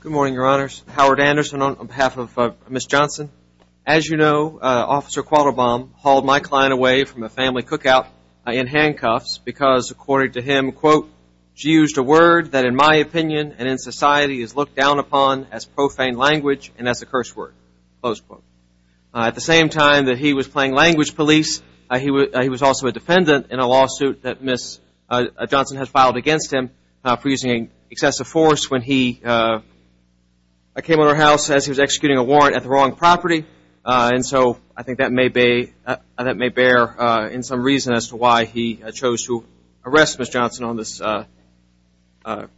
Good morning, your honors. Howard Anderson on behalf of Ms. Johnson. As you know, Officer Quattlebaum hauled my client away from a family cookout in handcuffs because, according to him, quote, she used a word that in my opinion and in society is looked down upon as profane language and as a curse word. Close quote. At the same time that he was playing language police, he was also a defendant in a lawsuit that Ms. Johnson had filed against him for using excessive force when he came on her house as he was executing a warrant at the wrong property. And so I think that may bear in some reason as to why he chose to arrest Ms. Johnson on this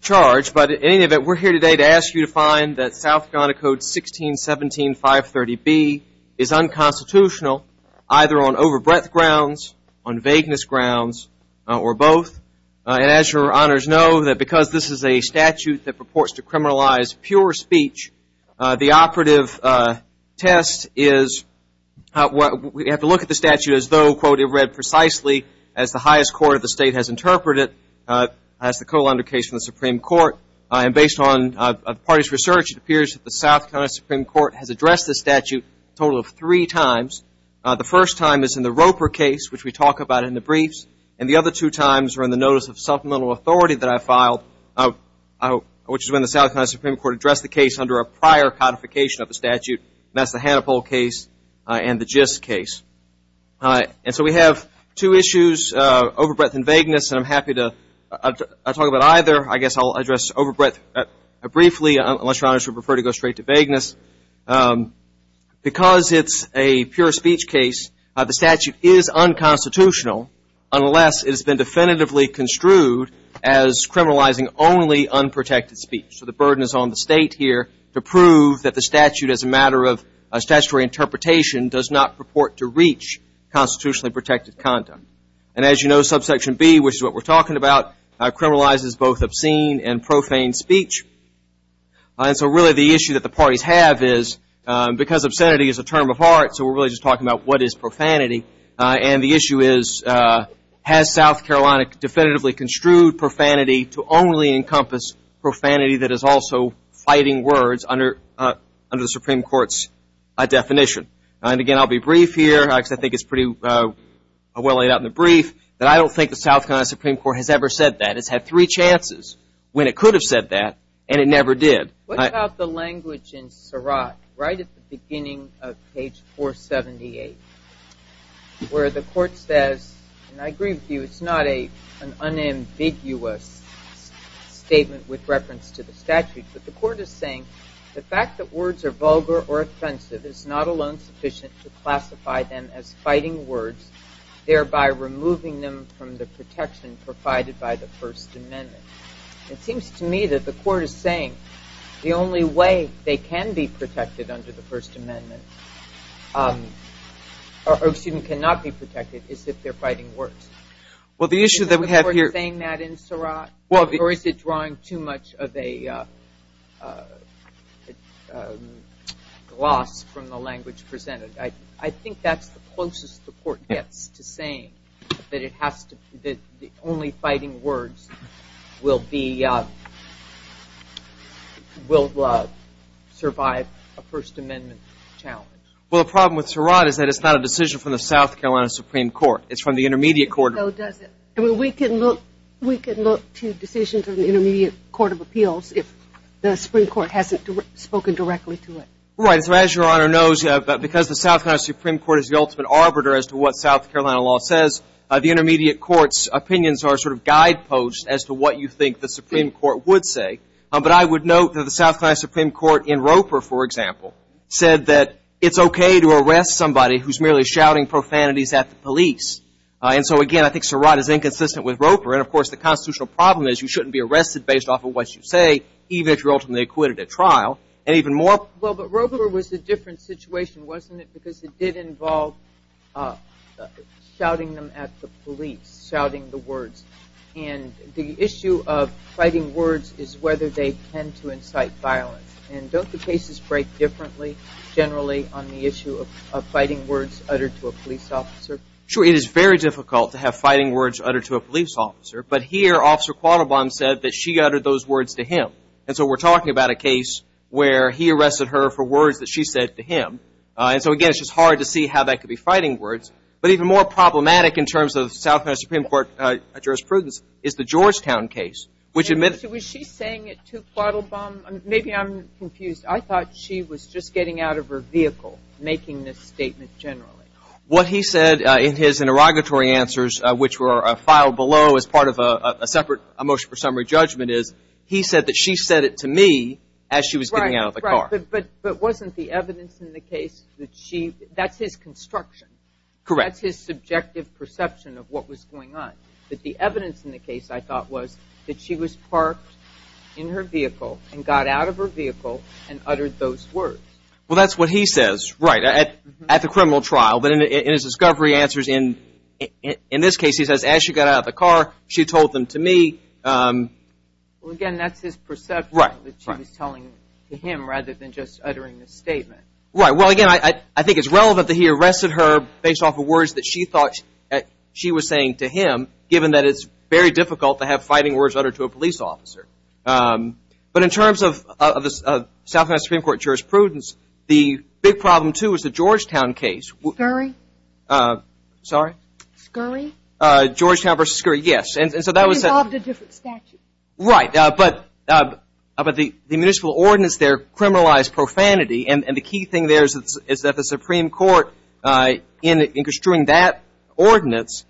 charge. But in any event, we're here today to ask you to find that South Carolina Code 1617-530B is unconstitutional, either on overbreadth grounds, on vagueness grounds, or both. And as your honors know, that because this is a statute that purports to criminalize pure speech, the operative test is we have to look at the statute as though, quote, it read precisely as the highest court of the state has interpreted it, as the Cole under case from the Supreme Court. And based on the party's research, it appears that the South Carolina Supreme Court has addressed this statute a total of three times. The first time is in the Roper case, which we talk about in the briefs, and the other two times are in the notice of supplemental authority that I filed, which is when the South Carolina Supreme Court addressed the case under a prior codification of the statute, and that's the Hannibal case and the Gist case. And so we have two issues, overbreadth and vagueness, and I'm happy to talk about either. I guess I'll address overbreadth briefly, unless your honors would prefer to go straight to vagueness. Because it's a pure speech case, the statute is unconstitutional, unless it has been definitively construed as criminalizing only unprotected speech. So the burden is on the state here to prove that the statute, as a matter of statutory interpretation, does not purport to reach constitutionally protected conduct. And as you know, subsection B, which is what we're talking about, criminalizes both obscene and profane speech. And so really the issue that the parties have is, because obscenity is a term of art, so we're really just talking about what is profanity, and the issue is has South Carolina definitively construed profanity to only encompass profanity that is also fighting words under the Supreme Court's definition. And again, I'll be brief here, because I think it's pretty well laid out in the brief, that I don't think the South Carolina Supreme Court has ever said that. It's had three chances when it could have said that, and it never did. What about the language in Surratt, right at the beginning of page 478, where the court says, and I agree with you, it's not an unambiguous statement with reference to the statute, but the court is saying the fact that words are vulgar or offensive is not alone sufficient to classify them as fighting words, thereby removing them from the protection provided by the First Amendment. It seems to me that the court is saying the only way they can be protected under the First Amendment, or excuse me, cannot be protected, is if they're fighting words. Is the court saying that in Surratt, or is it drawing too much of a gloss from the language presented? I think that's the closest the court gets to saying that the only fighting words will survive a First Amendment challenge. Well, the problem with Surratt is that it's not a decision from the South Carolina Supreme Court. It's from the Intermediate Court. No, it doesn't. I mean, we can look to decisions of the Intermediate Court of Appeals if the Supreme Court hasn't spoken directly to it. Right. So as Your Honor knows, because the South Carolina Supreme Court is the ultimate arbiter as to what South Carolina law says, the Intermediate Court's opinions are sort of guideposts as to what you think the Supreme Court would say. But I would note that the South Carolina Supreme Court in Roper, for example, said that it's okay to arrest somebody who's merely shouting profanities at the police. And so, again, I think Surratt is inconsistent with Roper. And, of course, the constitutional problem is you shouldn't be arrested based off of what you say, even if you're ultimately acquitted at trial. And even more. Well, but Roper was a different situation, wasn't it? Because it did involve shouting them at the police, shouting the words. And the issue of fighting words is whether they tend to incite violence. And don't the cases break differently generally on the issue of fighting words uttered to a police officer? Sure. It is very difficult to have fighting words uttered to a police officer. But here, Officer Quattlebaum said that she uttered those words to him. And so we're talking about a case where he arrested her for words that she said to him. And so, again, it's just hard to see how that could be fighting words. But even more problematic in terms of South Carolina Supreme Court jurisprudence is the Georgetown case, which admitted Was she saying it to Quattlebaum? Maybe I'm confused. I thought she was just getting out of her vehicle making this statement generally. What he said in his interrogatory answers, which were filed below as part of a separate motion for summary judgment, is he said that she said it to me as she was getting out of the car. But wasn't the evidence in the case that she – that's his construction. Correct. That's his subjective perception of what was going on. But the evidence in the case, I thought, was that she was parked in her vehicle and got out of her vehicle and uttered those words. Well, that's what he says, right, at the criminal trial. But in his discovery answers in this case, he says, as she got out of the car, she told them to me. Well, again, that's his perception that she was telling him rather than just uttering the statement. Right. Well, again, I think it's relevant that he arrested her based off of words that she thought she was saying to him, given that it's very difficult to have fighting words uttered to a police officer. But in terms of South Carolina Supreme Court jurisprudence, the big problem, too, is the Georgetown case. Scurry? Sorry? Scurry? Georgetown v. Scurry, yes. And so that was – It involved a different statute. Right. But the municipal ordinance there criminalized profanity. And the key thing there is that the Supreme Court, in construing that ordinance,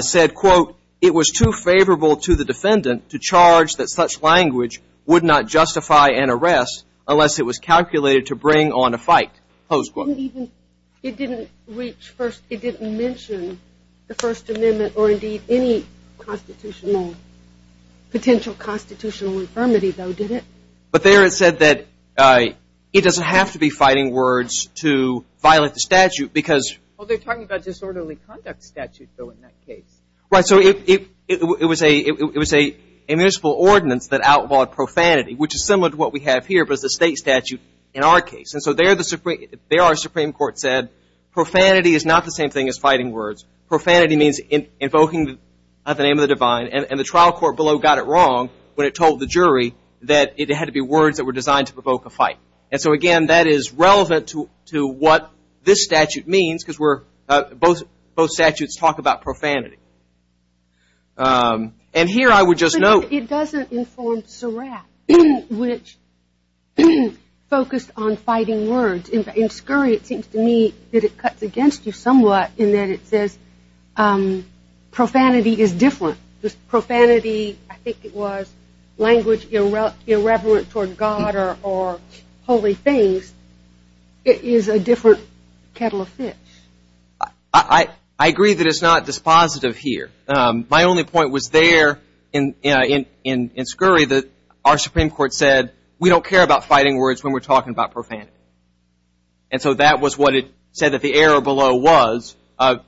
said, quote, it was too favorable to the defendant to charge that such language would not justify an arrest unless it was calculated to bring on a fight. Close quote. It didn't even – it didn't reach first – it didn't mention the First Amendment or, indeed, any constitutional – potential constitutional infirmity, though, did it? But there it said that it doesn't have to be fighting words to violate the statute because – Well, they're talking about disorderly conduct statute, though, in that case. Right. So it was a municipal ordinance that outlawed profanity, which is similar to what we have here, but it's a state statute in our case. And so there the – there our Supreme Court said profanity is not the same thing as fighting words. Profanity means invoking the name of the divine, and the trial court below got it wrong when it told the jury that it had to be words that were designed to provoke a fight. And so, again, that is relevant to what this statute means because we're – both statutes talk about profanity. And here I would just note –– focused on fighting words. In Scurry, it seems to me that it cuts against you somewhat in that it says profanity is different. Profanity – I think it was language irreverent toward God or holy things. It is a different kettle of fish. I agree that it's not dispositive here. My only point was there in Scurry that our Supreme Court said we don't care about fighting words when we're talking about profanity. And so that was what it said that the error below was from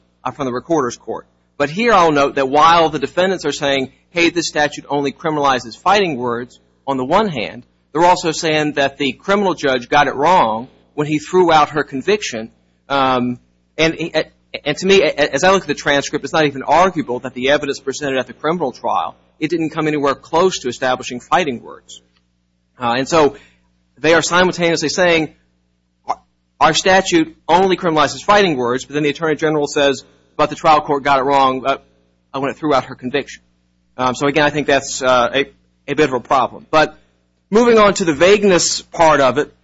the recorder's court. But here I'll note that while the defendants are saying, hey, this statute only criminalizes fighting words on the one hand, they're also saying that the criminal judge got it wrong when he threw out her conviction. And to me, as I look at the transcript, it's not even arguable that the evidence presented at the criminal trial, it didn't come anywhere close to establishing fighting words. And so they are simultaneously saying our statute only criminalizes fighting words, but then the Attorney General says, but the trial court got it wrong when it threw out her conviction. So, again, I think that's a bit of a problem. But moving on to the vagueness part of it,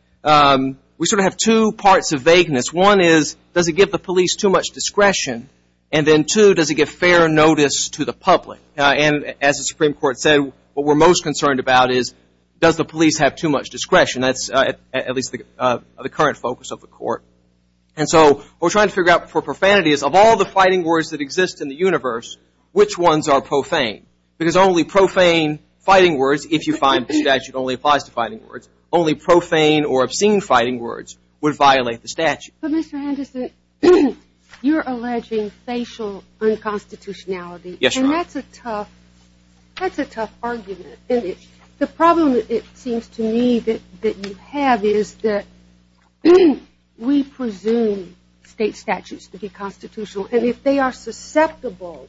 we sort of have two parts of vagueness. One is, does it give the police too much discretion? And then, two, does it give fair notice to the public? And as the Supreme Court said, what we're most concerned about is, does the police have too much discretion? That's at least the current focus of the court. And so what we're trying to figure out for profanity is of all the fighting words that exist in the universe, which ones are profane? Because only profane fighting words, if you find the statute only applies to fighting words, only profane or obscene fighting words would violate the statute. But, Mr. Anderson, you're alleging facial unconstitutionality. Yes, Your Honor. And that's a tough argument. The problem, it seems to me, that you have is that we presume state statutes to be constitutional, and if they are susceptible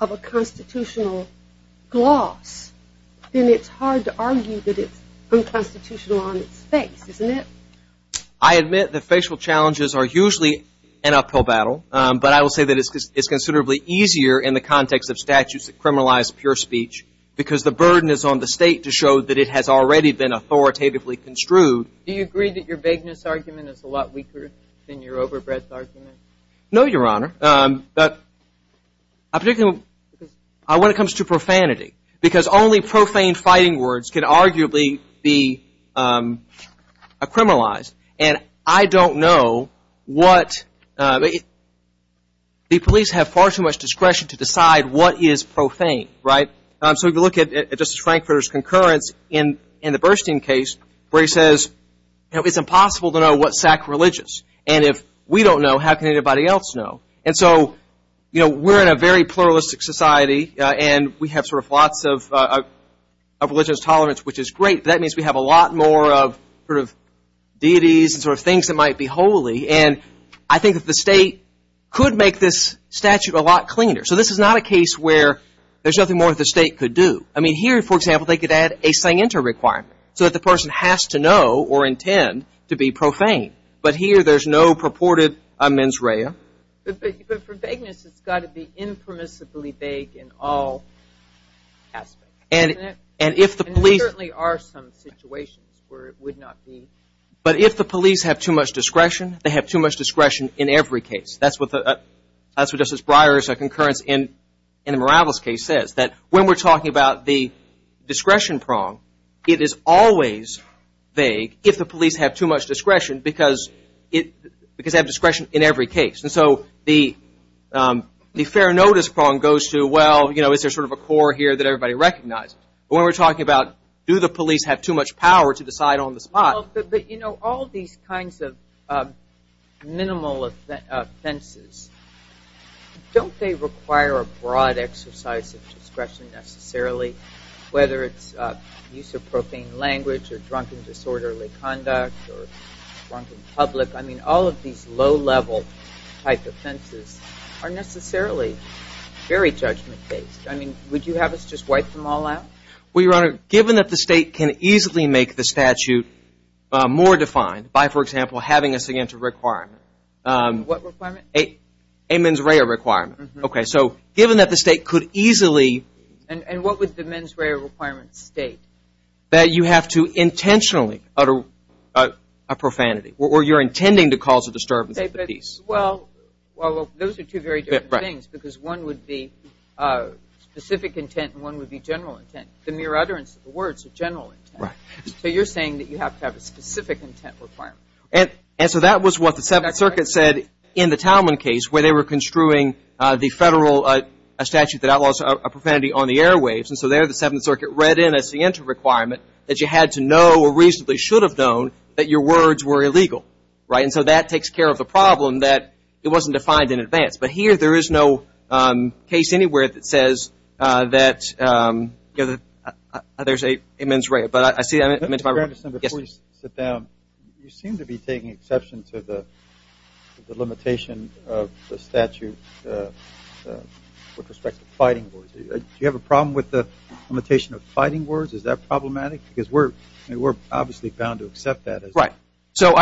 of a constitutional gloss, then it's hard to argue that it's unconstitutional on its face, isn't it? I admit that facial challenges are usually an uphill battle, but I will say that it's considerably easier in the context of statutes that criminalize pure speech because the burden is on the state to show that it has already been authoritatively construed. Do you agree that your vagueness argument is a lot weaker than your overbreadth argument? No, Your Honor. When it comes to profanity, because only profane fighting words can arguably be criminalized, and I don't know what the police have far too much discretion to decide what is profane, right? So if you look at Justice Frankfurter's concurrence in the Burstein case where he says, you know, it's impossible to know what's sacrilegious, and if we don't know, how can anybody else know? And so, you know, we're in a very pluralistic society, and we have sort of lots of religious tolerance, which is great, but that means we have a lot more of sort of deities and sort of things that might be holy, and I think that the state could make this statute a lot cleaner. So this is not a case where there's nothing more that the state could do. I mean, here, for example, they could add a sanctor requirement so that the person has to know or intend to be profane, but here there's no purported mens rea. But for vagueness, it's got to be impermissibly vague in all aspects, isn't it? And if the police… And there certainly are some situations where it would not be. But if the police have too much discretion, they have too much discretion in every case. That's what Justice Breyer's concurrence in the Morales case says, that when we're talking about the discretion prong, it is always vague if the police have too much discretion, because they have discretion in every case. And so the fair notice prong goes to, well, you know, is there sort of a core here that everybody recognizes? But when we're talking about do the police have too much power to decide on the spot… Well, but, you know, all these kinds of minimal offenses, don't they require a broad exercise of discretion necessarily, whether it's use of profane language or drunken disorderly conduct or drunk in public? I mean, all of these low-level type offenses are necessarily very judgment-based. I mean, would you have us just wipe them all out? Well, Your Honor, given that the State can easily make the statute more defined by, for example, having us again to require… What requirement? A mens rea requirement. Okay, so given that the State could easily… And what would the mens rea requirement state? That you have to intentionally utter a profanity or you're intending to cause a disturbance of the peace. Well, those are two very different things because one would be specific intent and one would be general intent. The mere utterance of the word is a general intent. So you're saying that you have to have a specific intent requirement. And so that was what the Seventh Circuit said in the Talman case where they were construing the federal statute that outlaws profanity on the airwaves. And so there the Seventh Circuit read in as the entry requirement that you had to know or reasonably should have known that your words were illegal, right? So that it wasn't defined in advance. But here there is no case anywhere that says that there's a mens rea. But I see… Your Honor, before you sit down, you seem to be taking exception to the limitation of the statute with respect to fighting words. Do you have a problem with the limitation of fighting words? Is that problematic? Because we're obviously bound to accept that. Right. So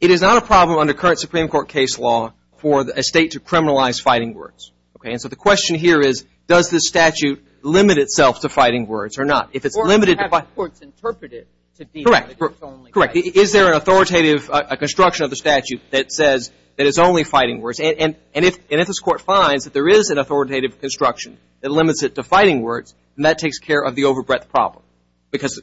it is not a problem under current Supreme Court case law for a state to criminalize fighting words, okay? And so the question here is does this statute limit itself to fighting words or not? If it's limited… Or if you have courts interpret it to be that it is only fighting words. Correct. Is there an authoritative construction of the statute that says that it's only fighting words? And if this Court finds that there is an authoritative construction that limits it to fighting words, then that takes care of the overbreadth problem. Because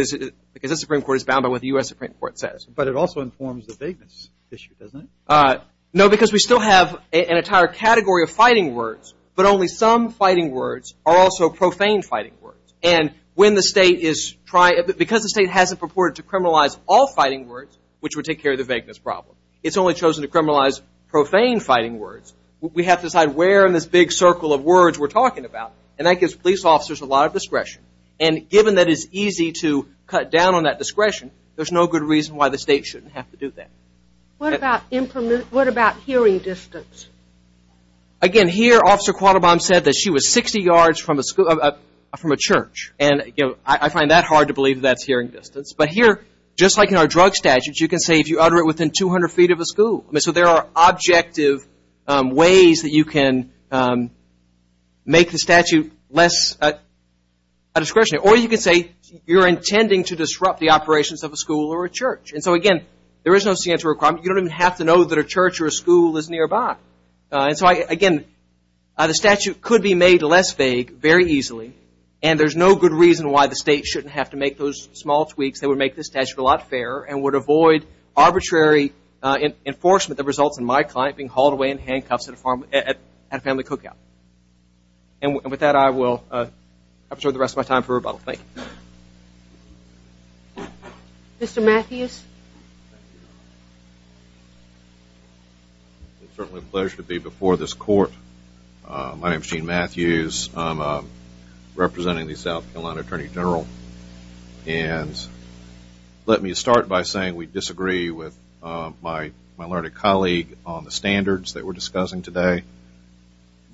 the Supreme Court is bound by what the U.S. Supreme Court says. But it also informs the vagueness issue, doesn't it? No, because we still have an entire category of fighting words, but only some fighting words are also profane fighting words. And when the state is trying… Because the state hasn't purported to criminalize all fighting words, which would take care of the vagueness problem. It's only chosen to criminalize profane fighting words. We have to decide where in this big circle of words we're talking about. And that gives police officers a lot of discretion. And given that it's easy to cut down on that discretion, there's no good reason why the state shouldn't have to do that. What about hearing distance? Again, here Officer Quattlebaum said that she was 60 yards from a church. And I find that hard to believe that's hearing distance. But here, just like in our drug statutes, you can say if you utter it within 200 feet of a school. So there are objective ways that you can make the statute less a discretionary. Or you can say you're intending to disrupt the operations of a school or a church. And so, again, there is no signature requirement. You don't even have to know that a church or a school is nearby. And so, again, the statute could be made less vague very easily. And there's no good reason why the state shouldn't have to make those small tweaks that would make the statute a lot fairer and would avoid arbitrary enforcement that results in my client being hauled away in handcuffs at a family cookout. And with that, I will offer the rest of my time for rebuttal. Thank you. Mr. Matthews? It's certainly a pleasure to be before this court. My name is Gene Matthews. I'm representing the South Carolina Attorney General. And let me start by saying we disagree with my learned colleague on the standards that we're discussing today.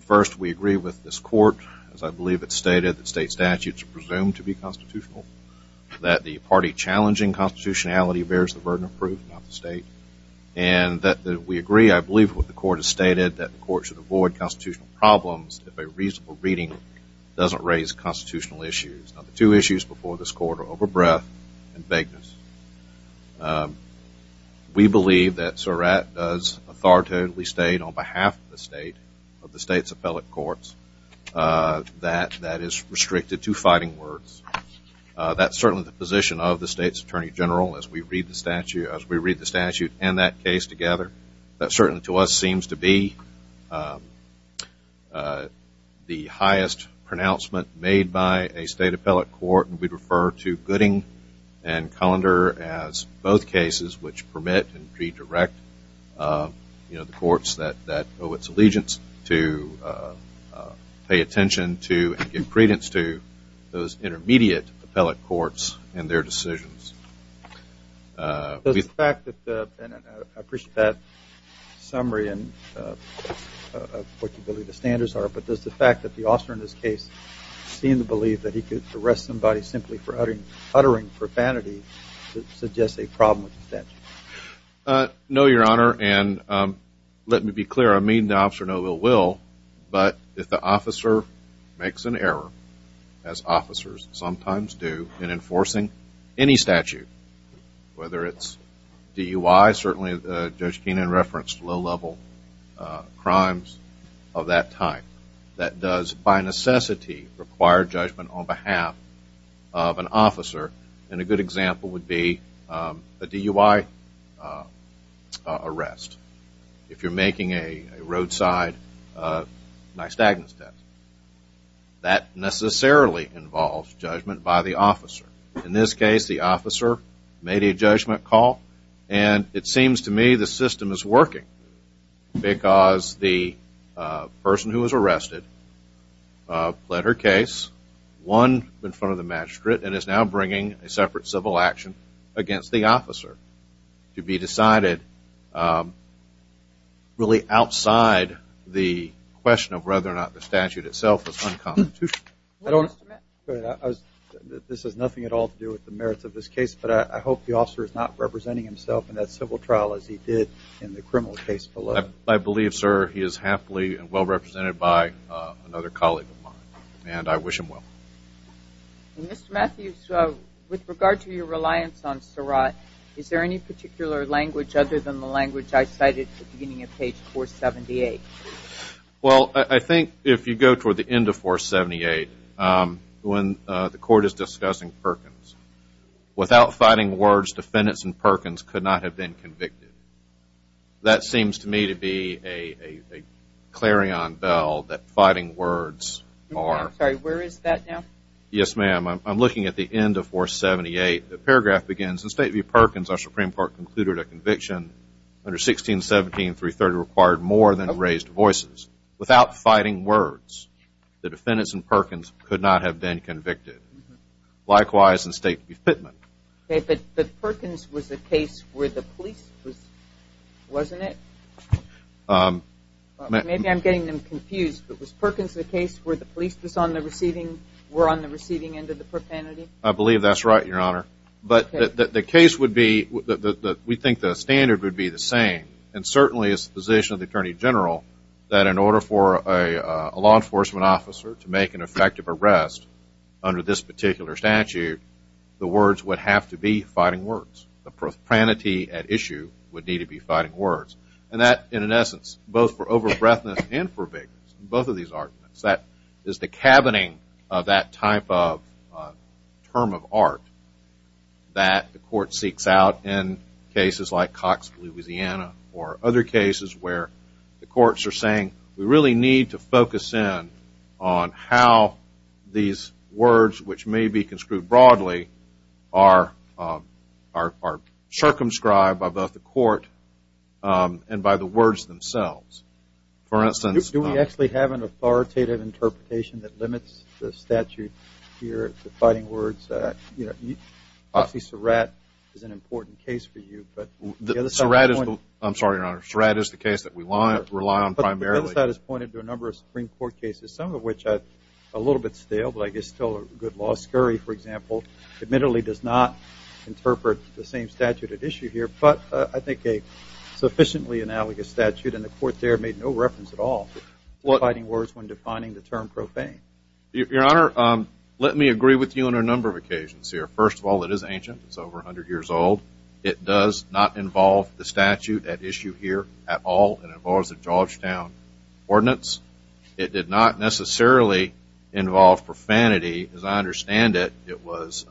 First, we agree with this court, as I believe it's stated, that state statutes are presumed to be constitutional, that the party challenging constitutionality bears the burden of proof, not the state, and that we agree, I believe what the court has stated, that the court should avoid constitutional problems if a reasonable reading doesn't raise constitutional issues. Now, the two issues before this court are overbreath and vagueness. We believe that Surratt does authoritatively state on behalf of the state, of the state's appellate courts, that that is restricted to fighting words. That's certainly the position of the state's Attorney General as we read the statute and that case together. That certainly to us seems to be the highest pronouncement made by a state appellate court, and we refer to Gooding and Colander as both cases which permit and redirect, you know, the courts that owe its allegiance to pay attention to and give credence to those intermediate appellate courts and their decisions. Does the fact that, and I appreciate that summary of what you believe the standards are, but does the fact that the officer in this case seemed to believe that he could arrest somebody simply for uttering profanity suggest a problem with the statute? No, Your Honor, and let me be clear, I mean the officer no ill will, but if the officer makes an error, as officers sometimes do in enforcing any statute, whether it's DUI, certainly Judge Keenan referenced low-level crimes of that type, that does by necessity require judgment on behalf of an officer, and a good example would be a DUI arrest. If you're making a roadside nystagmus test, that necessarily involves judgment by the officer. In this case, the officer made a judgment call, and it seems to me the system is working because the person who was arrested pled her case, won in front of the magistrate, and is now bringing a separate civil action against the officer, to be decided really outside the question of whether or not the statute itself is unconstitutional. I don't, this has nothing at all to do with the merits of this case, but I hope the officer is not representing himself in that civil trial as he did in the criminal case below. I believe, sir, he is happily and well represented by another colleague of mine, and I wish him well. Mr. Matthews, with regard to your reliance on Surratt, is there any particular language other than the language I cited at the beginning of page 478? Well, I think if you go toward the end of 478, when the court is discussing Perkins, without fighting words, defendants in Perkins could not have been convicted. That seems to me to be a clarion bell, that fighting words are… I'm sorry, where is that now? Yes, ma'am. I'm looking at the end of 478. The paragraph begins, in the state of Perkins, our Supreme Court concluded a conviction under 1617-330 required more than raised voices. Without fighting words, the defendants in Perkins could not have been convicted. Likewise, in the state of Fitman. Okay, but Perkins was a case where the police was, wasn't it? Maybe I'm getting them confused. Was Perkins a case where the police were on the receiving end of the propranity? I believe that's right, Your Honor. But the case would be, we think the standard would be the same, and certainly it's the position of the Attorney General that in order for a law enforcement officer to make an effective arrest under this particular statute, the words would have to be fighting words. The propranity at issue would need to be fighting words. And that, in essence, both for over-breadthness and for vagueness, both of these arguments, that is the cabining of that type of term of art that the court seeks out in cases like Cox, Louisiana, or other cases where the courts are saying we really need to focus in on how these words, which may be construed broadly, are circumscribed by both the court and by the words themselves. Do we actually have an authoritative interpretation that limits the statute here to fighting words? Obviously, Surratt is an important case for you. Surratt is the case that we rely on primarily. But the other side has pointed to a number of Supreme Court cases, some of which are a little bit stale, but I guess still a good law. Scurry, for example, admittedly does not interpret the same statute at issue here, but I think a sufficiently analogous statute in the court there made no reference at all to fighting words when defining the term profane. Your Honor, let me agree with you on a number of occasions here. First of all, it is ancient. It's over 100 years old. It does not involve the statute at issue here at all. It involves the Georgetown Ordinance. It did not necessarily involve profanity, as I understand it. It was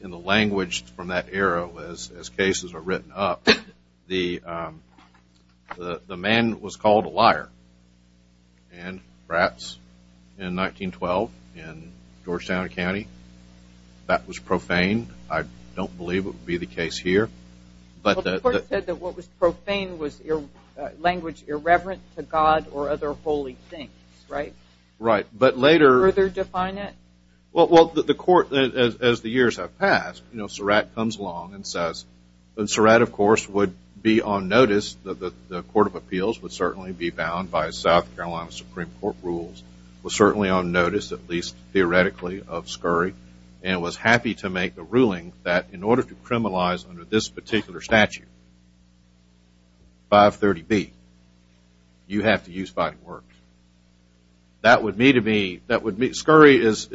in the language from that era, as cases are written up, the man was called a liar. And perhaps in 1912 in Georgetown County, that was profane. I don't believe it would be the case here. But the court said that what was profane was language irreverent to God or other holy things, right? Right. But later- Could you further define it? Well, the court, as the years have passed, you know, Surratt comes along and says, and Surratt, of course, would be on notice that the Court of Appeals would certainly be bound by South Carolina Supreme Court rules, was certainly on notice, at least theoretically, of Scurry, and was happy to make the ruling that in order to criminalize under this particular statute, 530B, you have to use fighting words. That would mean to me, that would mean, Scurry is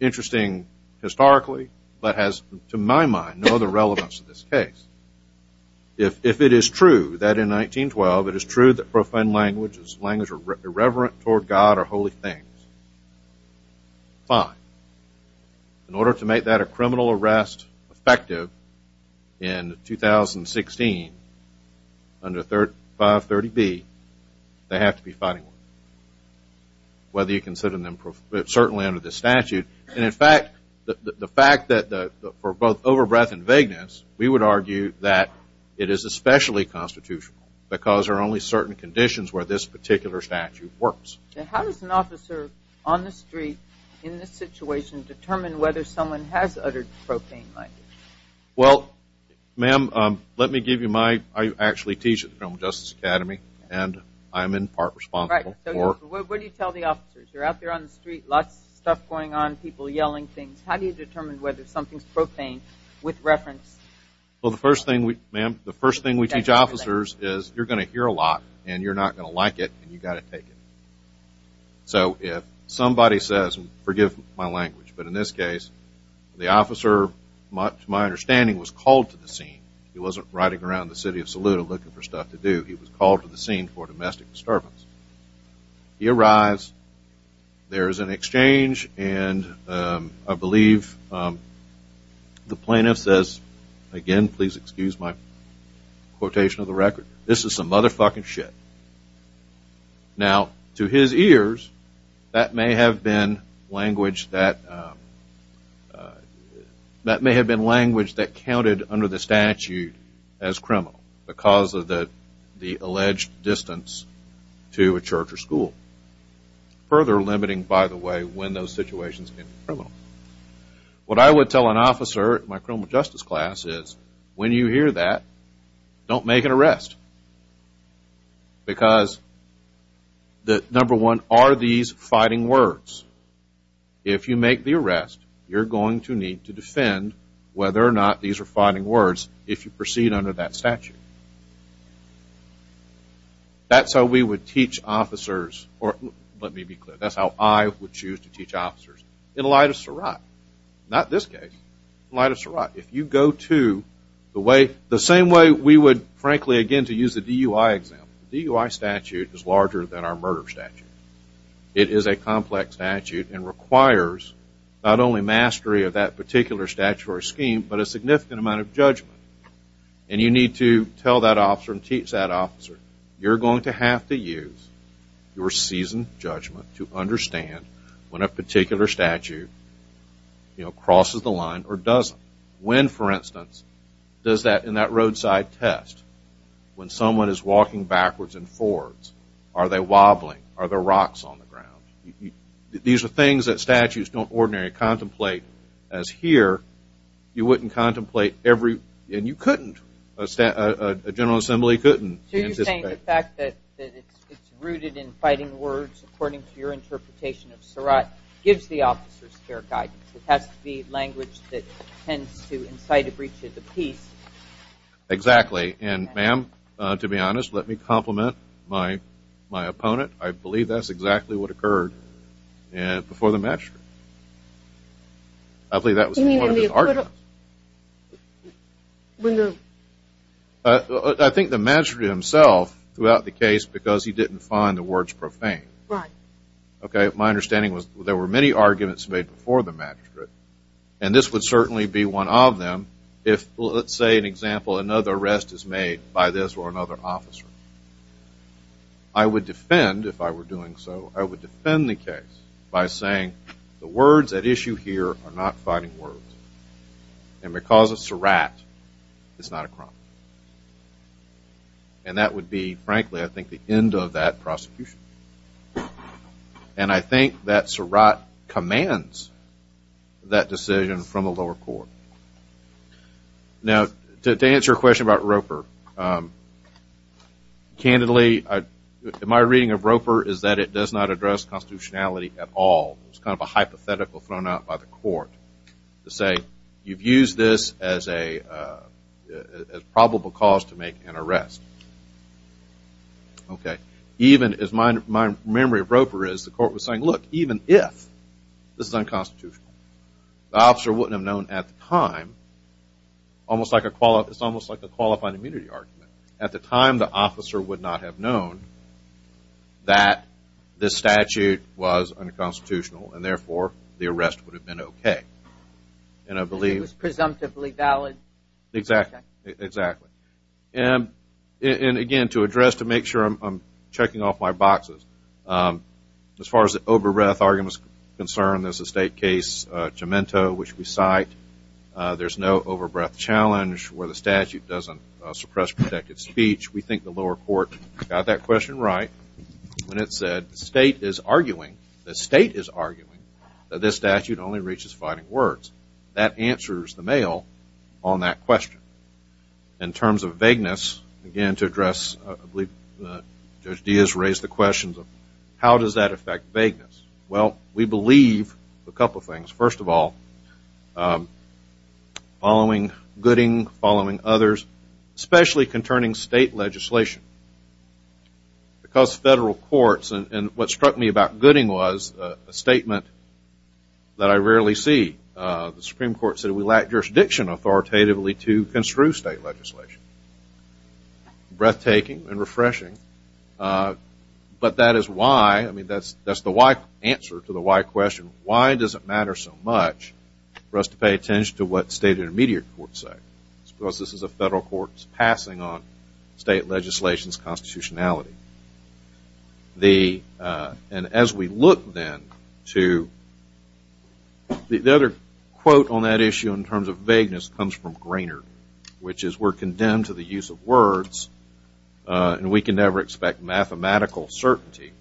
interesting historically, but has, to my mind, no other relevance to this case. If it is true that in 1912 it is true that profane language is language irreverent toward God or holy things, fine. In order to make that a criminal arrest effective in 2016, under 530B, they have to be fighting words, whether you consider them certainly under this statute. And, in fact, the fact that for both over-breath and vagueness, we would argue that it is especially constitutional because there are only certain conditions where this particular statute works. And how does an officer on the street in this situation determine whether someone has uttered profane language? Well, ma'am, let me give you my – I actually teach at the Criminal Justice Academy, and I'm in part responsible for – Right. So what do you tell the officers? You're out there on the street, lots of stuff going on, people yelling things. How do you determine whether something's profane with reference? Well, the first thing we – ma'am, the first thing we teach officers is you're going to hear a lot, and you're not going to like it, and you've got to take it. So if somebody says – and forgive my language, but in this case, the officer, to my understanding, was called to the scene. He wasn't riding around the city of Saluda looking for stuff to do. He was called to the scene for domestic disturbance. He arrives. There is an exchange, and I believe the plaintiff says, again, please excuse my quotation of the record, but this is some motherfucking shit. Now, to his ears, that may have been language that – that may have been language that counted under the statute as criminal because of the alleged distance to a church or school, further limiting, by the way, when those situations can be criminal. What I would tell an officer in my criminal justice class is, when you hear that, don't make an arrest because, number one, are these fighting words? If you make the arrest, you're going to need to defend whether or not these are fighting words if you proceed under that statute. That's how we would teach officers – or let me be clear. That's how I would choose to teach officers in light of Surratt. Not this case. In light of Surratt. If you go to the way – the same way we would, frankly, again, to use the DUI example. The DUI statute is larger than our murder statute. It is a complex statute and requires not only mastery of that particular statutory scheme, but a significant amount of judgment. And you need to tell that officer and teach that officer, you're going to have to use your seasoned judgment to understand when a particular statute crosses the line or doesn't. When, for instance, does that – in that roadside test, when someone is walking backwards and forwards, are they wobbling? Are there rocks on the ground? These are things that statutes don't ordinarily contemplate. As here, you wouldn't contemplate every – and you couldn't. A general assembly couldn't. So you're saying the fact that it's rooted in fighting words, according to your interpretation of Surratt, gives the officers fair guidance. It has to be language that tends to incite a breach of the peace. Exactly. And, ma'am, to be honest, let me compliment my opponent. I believe that's exactly what occurred before the match. I believe that was part of his argument. When the – I think the magistrate himself threw out the case because he didn't find the words profane. Right. Okay. My understanding was there were many arguments made before the magistrate, and this would certainly be one of them if, let's say, an example, another arrest is made by this or another officer. I would defend, if I were doing so, I would defend the case by saying the words at issue here are not fighting words. And because of Surratt, it's not a crime. And that would be, frankly, I think, the end of that prosecution. And I think that Surratt commands that decision from a lower court. Now, to answer your question about Roper, candidly, my reading of Roper is that it does not address constitutionality at all. It's kind of a hypothetical thrown out by the court to say you've used this as a probable cause to make an arrest. Okay. Even, as my memory of Roper is, the court was saying, look, even if this is unconstitutional, the officer wouldn't have known at the time, it's almost like a qualifying immunity argument, at the time the officer would not have known that this statute was unconstitutional and, therefore, the arrest would have been okay. And I believe. It was presumptively valid. Exactly. Exactly. And, again, to address, to make sure I'm checking off my boxes, as far as the over-breath argument is concerned, there's a state case, Gemento, which we cite. There's no over-breath challenge where the statute doesn't suppress protected speech. We think the lower court got that question right when it said the state is arguing, the state is arguing that this statute only reaches fighting words. That answers the mail on that question. In terms of vagueness, again, to address, I believe Judge Diaz raised the question, how does that affect vagueness? Well, we believe a couple of things. First of all, following Gooding, following others, especially concerning state legislation. Because federal courts, and what struck me about Gooding was a statement that I rarely see. The Supreme Court said we lack jurisdiction authoritatively to construe state legislation. Breathtaking and refreshing. But that is why, I mean, that's the answer to the why question. Why does it matter so much for us to pay attention to what state and immediate courts say? Because this is a federal court's passing on state legislation's constitutionality. And as we look, then, to the other quote on that issue in terms of vagueness comes from Grainer, which is we're condemned to the use of words and we can never expect mathematical certainty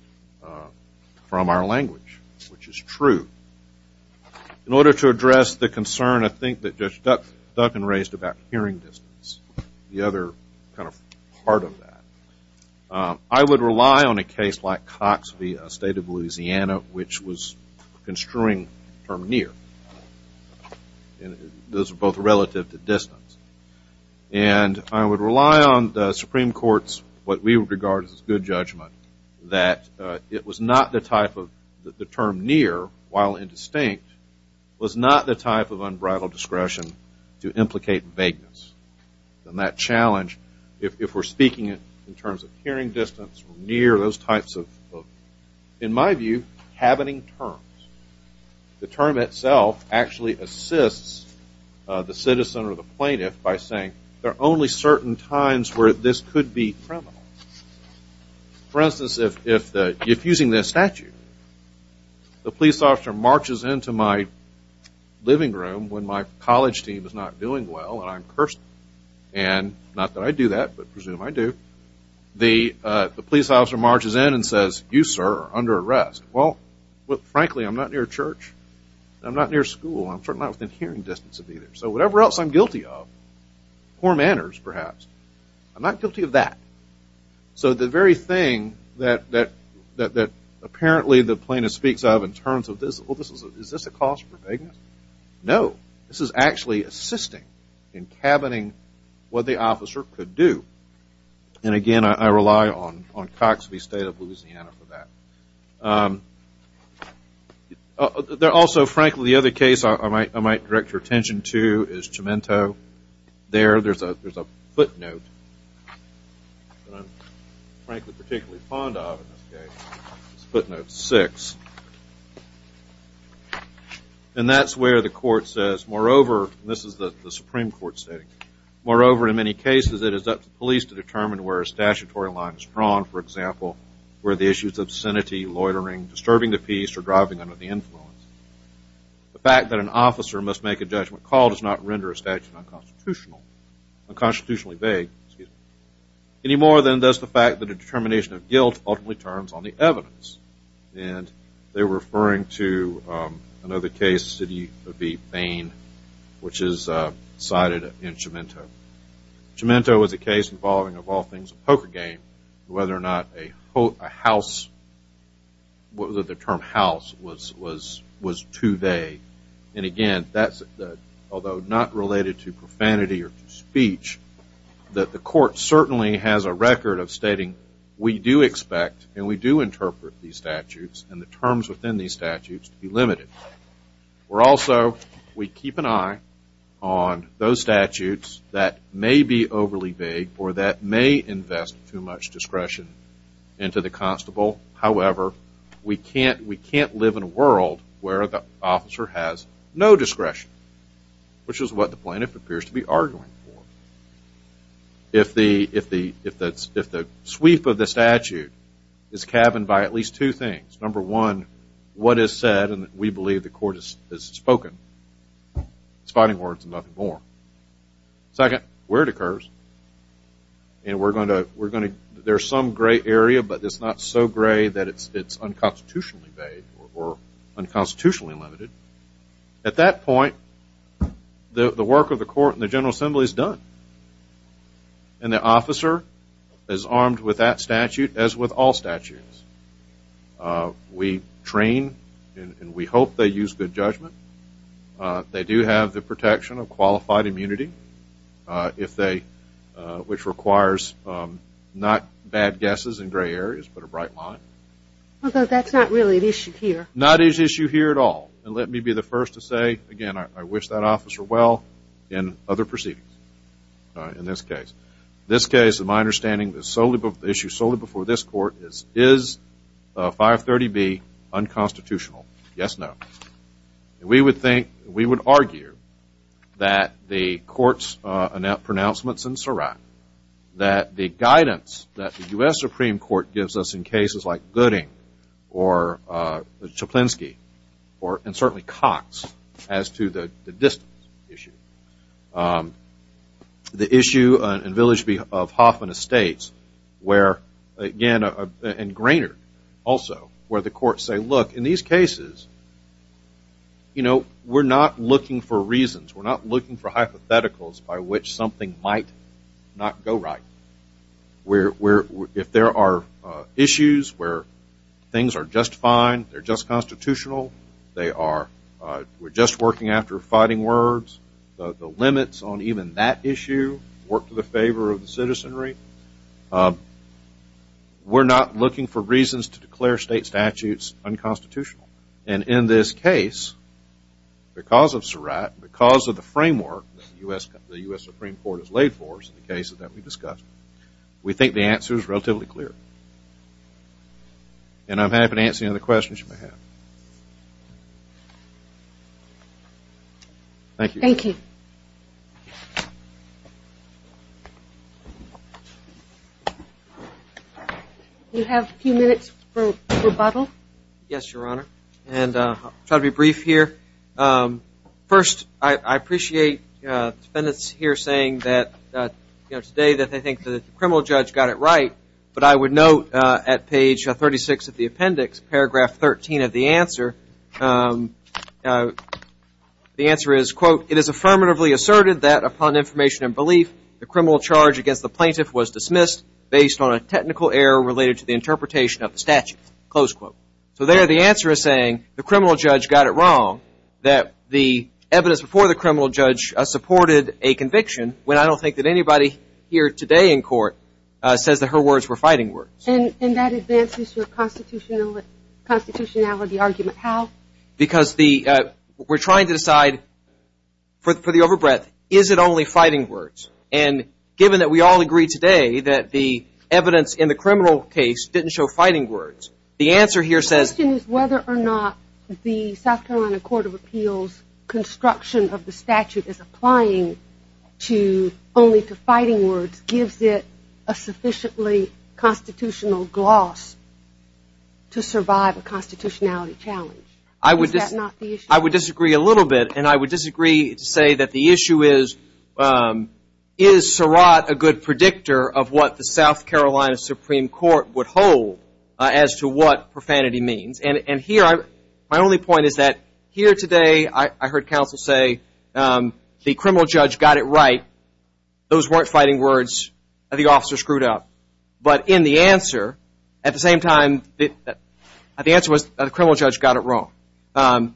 from our language, which is true. In order to address the concern, I think, that Judge Duncan raised about hearing distance, the other kind of part of that, I would rely on a case like Cox v. State of Louisiana, which was construing the term near. Those are both relative to distance. And I would rely on the Supreme Court's, what we regard as good judgment, that it was not the type of the term near, while indistinct, was not the type of unbridled discretion to implicate vagueness. And that challenge, if we're speaking in terms of hearing distance, near, those types of, in my view, cabining terms, the term itself actually assists the citizen or the plaintiff by saying, there are only certain times where this could be criminal. For instance, if using this statute, the police officer marches into my living room when my college team is not doing well and I'm cursing them, and not that I do that, but I presume I do, the police officer marches in and says, you, sir, are under arrest. Well, frankly, I'm not near church. I'm not near school. I'm certainly not within hearing distance of either. So whatever else I'm guilty of, poor manners, perhaps, I'm not guilty of that. So the very thing that apparently the plaintiff speaks of in terms of this, well, is this a cause for vagueness? No. This is actually assisting in cabining what the officer could do. And, again, I rely on Cox v. State of Louisiana for that. Also, frankly, the other case I might direct your attention to is Cemento. There, there's a footnote that I'm, frankly, particularly fond of in this case. It's footnote six. And that's where the court says, moreover, and this is the Supreme Court stating, moreover, in many cases it is up to police to determine where a statutory line is drawn. For example, where the issue is obscenity, loitering, disturbing the peace, or driving under the influence. The fact that an officer must make a judgment call does not render a statute unconstitutionally vague, any more than does the fact that a determination of guilt ultimately turns on the evidence. And they were referring to another case, City v. Bain, which is cited in Cemento. Cemento was a case involving, of all things, a poker game, whether or not a house, whether the term house was too vague. And again, that's, although not related to profanity or to speech, that the court certainly has a record of stating, we do expect and we do interpret these statutes and the terms within these statutes to be limited. We're also, we keep an eye on those statutes that may be overly vague or that may invest too much discretion into the constable. However, we can't live in a world where the officer has no discretion, which is what the plaintiff appears to be arguing for. If the sweep of the statute is cabined by at least two things, number one, what is said and we believe the court has spoken. It's fighting words and nothing more. Second, where it occurs, and we're going to, there's some gray area, but it's not so gray that it's unconstitutionally vague or unconstitutionally limited. At that point, the work of the court and the General Assembly is done. And the officer is armed with that statute, as with all statutes. We train and we hope they use good judgment. They do have the protection of qualified immunity, which requires not bad guesses in gray areas, but a bright line. Although that's not really an issue here. Not an issue here at all. And let me be the first to say, again, I wish that officer well in other proceedings in this case. This case, in my understanding, the issue solely before this court is, is 530B unconstitutional? Yes, no. We would think, we would argue that the court's pronouncements in Surat, that the guidance that the U.S. Supreme Court gives us in cases like Gooding or Chaplinsky and certainly Cox as to the distance issue. The issue in Village of Hoffman Estates where, again, and Grainard also, where the courts say, look, in these cases, you know, we're not looking for reasons. We're not looking for hypotheticals by which something might not go right. If there are issues where things are just fine, they're just constitutional, they are we're just working after fighting words, the limits on even that issue work to the favor of the citizenry. We're not looking for reasons to declare state statutes unconstitutional. And in this case, because of Surat, because of the framework that the U.S. Supreme Court has laid for us in the cases that we've discussed, we think the answer is relatively clear. And I'm happy to answer any other questions you may have. Thank you. Thank you. Do you have a few minutes for rebuttal? Yes, Your Honor. And I'll try to be brief here. First, I appreciate the defendants here saying that, you know, today that they think the criminal judge got it right. But I would note at page 36 of the appendix, paragraph 13 of the answer, the answer is, quote, it is affirmatively asserted that upon information and belief, the criminal charge against the plaintiff was dismissed based on a technical error related to the interpretation of the statute. Close quote. So there the answer is saying the criminal judge got it wrong, that the evidence before the criminal judge supported a conviction, when I don't think that anybody here today in court says that her words were fighting words. And that advances your constitutionality argument. How? Because we're trying to decide for the over breadth, is it only fighting words? And given that we all agree today that the evidence in the criminal case didn't show fighting words, the answer here says. The question is whether or not the South Carolina Court of Appeals construction of the statute is applying to only to fighting words gives it a sufficiently constitutional gloss to survive a constitutionality challenge. Is that not the issue? I would disagree a little bit. And I would disagree to say that the issue is, is Surratt a good predictor of what the South Carolina Supreme Court would hold as to what profanity means? And here my only point is that here today I heard counsel say the criminal judge got it right. Those weren't fighting words. The officer screwed up. But in the answer, at the same time, the answer was the criminal judge got it wrong.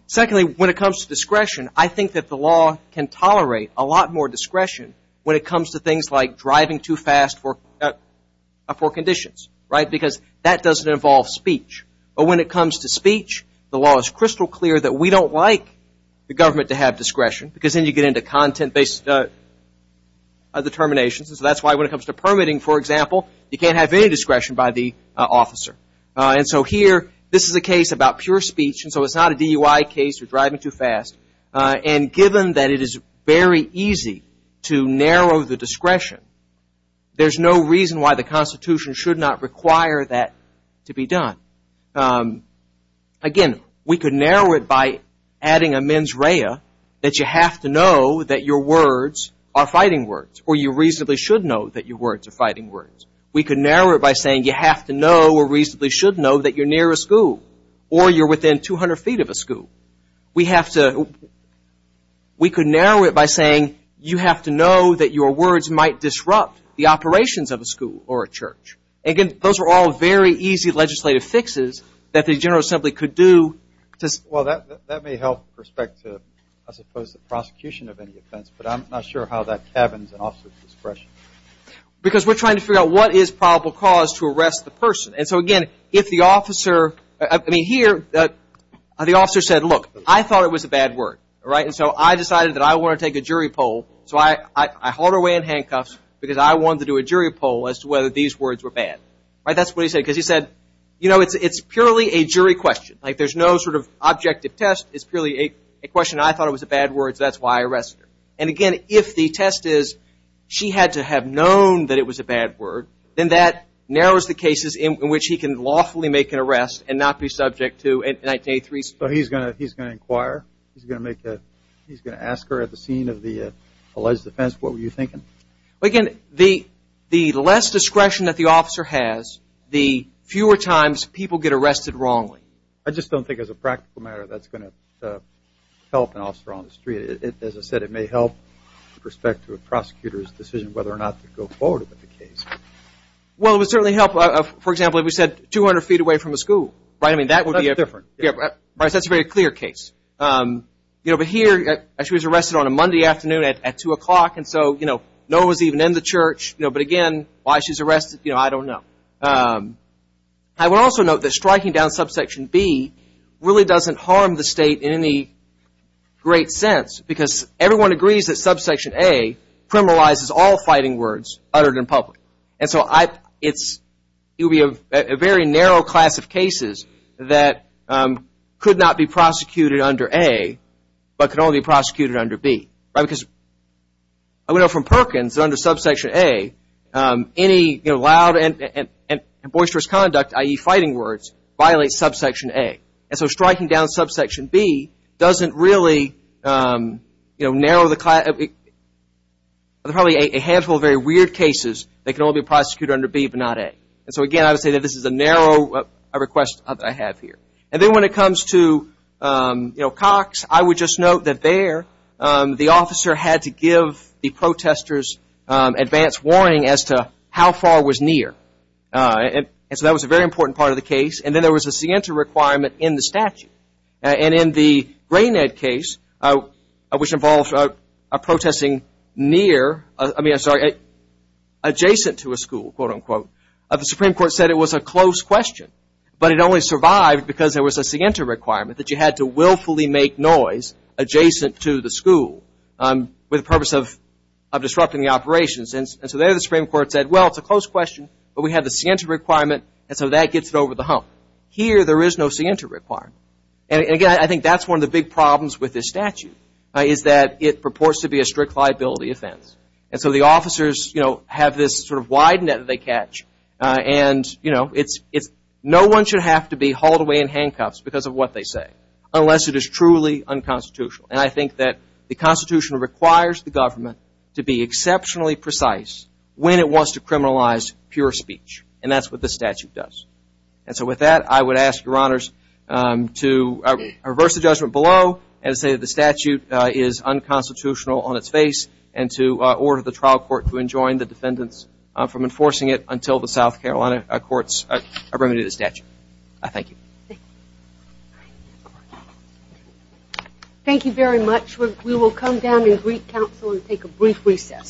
Secondly, when it comes to discretion, I think that the law can tolerate a lot more discretion when it comes to things like driving too fast for conditions, right? Because that doesn't involve speech. But when it comes to speech, the law is crystal clear that we don't like the government to have discretion because then you get into content-based determinations. And so that's why when it comes to permitting, for example, you can't have any discretion by the officer. And so here, this is a case about pure speech, and so it's not a DUI case or driving too fast. And given that it is very easy to narrow the discretion, there's no reason why the Constitution should not require that to be done. Again, we could narrow it by adding a mens rea that you have to know that your words are fighting words or you reasonably should know that your words are fighting words. We could narrow it by saying you have to know or reasonably should know that you're near a school or you're within 200 feet of a school. We have to – we could narrow it by saying you have to know that your words might disrupt the operations of a school or a church. Again, those are all very easy legislative fixes that the General Assembly could do to – Well, that may help with respect to, I suppose, the prosecution of any offense, but I'm not sure how that cabins an officer's discretion. Because we're trying to figure out what is probable cause to arrest the person. And so, again, if the officer – I mean, here, the officer said, look, I thought it was a bad word. And so I decided that I want to take a jury poll. So I hauled her away in handcuffs because I wanted to do a jury poll as to whether these words were bad. That's what he said, because he said, you know, it's purely a jury question. There's no sort of objective test. It's purely a question. I thought it was a bad word, so that's why I arrested her. And, again, if the test is she had to have known that it was a bad word, then that narrows the cases in which he can lawfully make an arrest and not be subject to 1983. So he's going to inquire? He's going to ask her at the scene of the alleged offense, what were you thinking? Again, the less discretion that the officer has, the fewer times people get arrested wrongly. I just don't think as a practical matter that's going to help an officer on the street. As I said, it may help with respect to a prosecutor's decision whether or not to go forward with the case. Well, it would certainly help, for example, if we said 200 feet away from a school, right? I mean, that would be a different. That's a very clear case. But here she was arrested on a Monday afternoon at 2 o'clock, and so no one was even in the church. But, again, why she was arrested, I don't know. I would also note that striking down subsection B really doesn't harm the state in any great sense because everyone agrees that subsection A criminalizes all fighting words uttered in public. And so it would be a very narrow class of cases that could not be prosecuted under A but could only be prosecuted under B. I would note from Perkins that under subsection A, any loud and boisterous conduct, i.e. fighting words, violates subsection A. And so striking down subsection B doesn't really narrow the class. There are probably a handful of very weird cases that can only be prosecuted under B but not A. And so, again, I would say that this is a narrow request that I have here. And then when it comes to Cox, I would just note that there the officer had to give the protesters advance warning as to how far was near. And so that was a very important part of the case. And then there was a scienter requirement in the statute. And in the Gray-Ned case, which involves a protesting near, I mean, I'm sorry, adjacent to a school, quote, unquote, the Supreme Court said it was a close question. But it only survived because there was a scienter requirement that you had to willfully make noise adjacent to the school with the purpose of disrupting the operations. And so there the Supreme Court said, well, it's a close question, but we have the scienter requirement, and so that gets it over the hump. Here there is no scienter requirement. And, again, I think that's one of the big problems with this statute is that it purports to be a strict liability offense. And so the officers, you know, have this sort of wide net that they catch. And, you know, no one should have to be hauled away in handcuffs because of what they say unless it is truly unconstitutional. And I think that the Constitution requires the government to be exceptionally precise when it wants to criminalize pure speech. And that's what the statute does. And so with that, I would ask Your Honors to reverse the judgment below and say that the statute is unconstitutional on its face and to order the trial court to enjoin the defendants from enforcing it until the South Carolina courts are remitted the statute. Thank you. Thank you very much. We will come down in Greek Council and take a brief recess.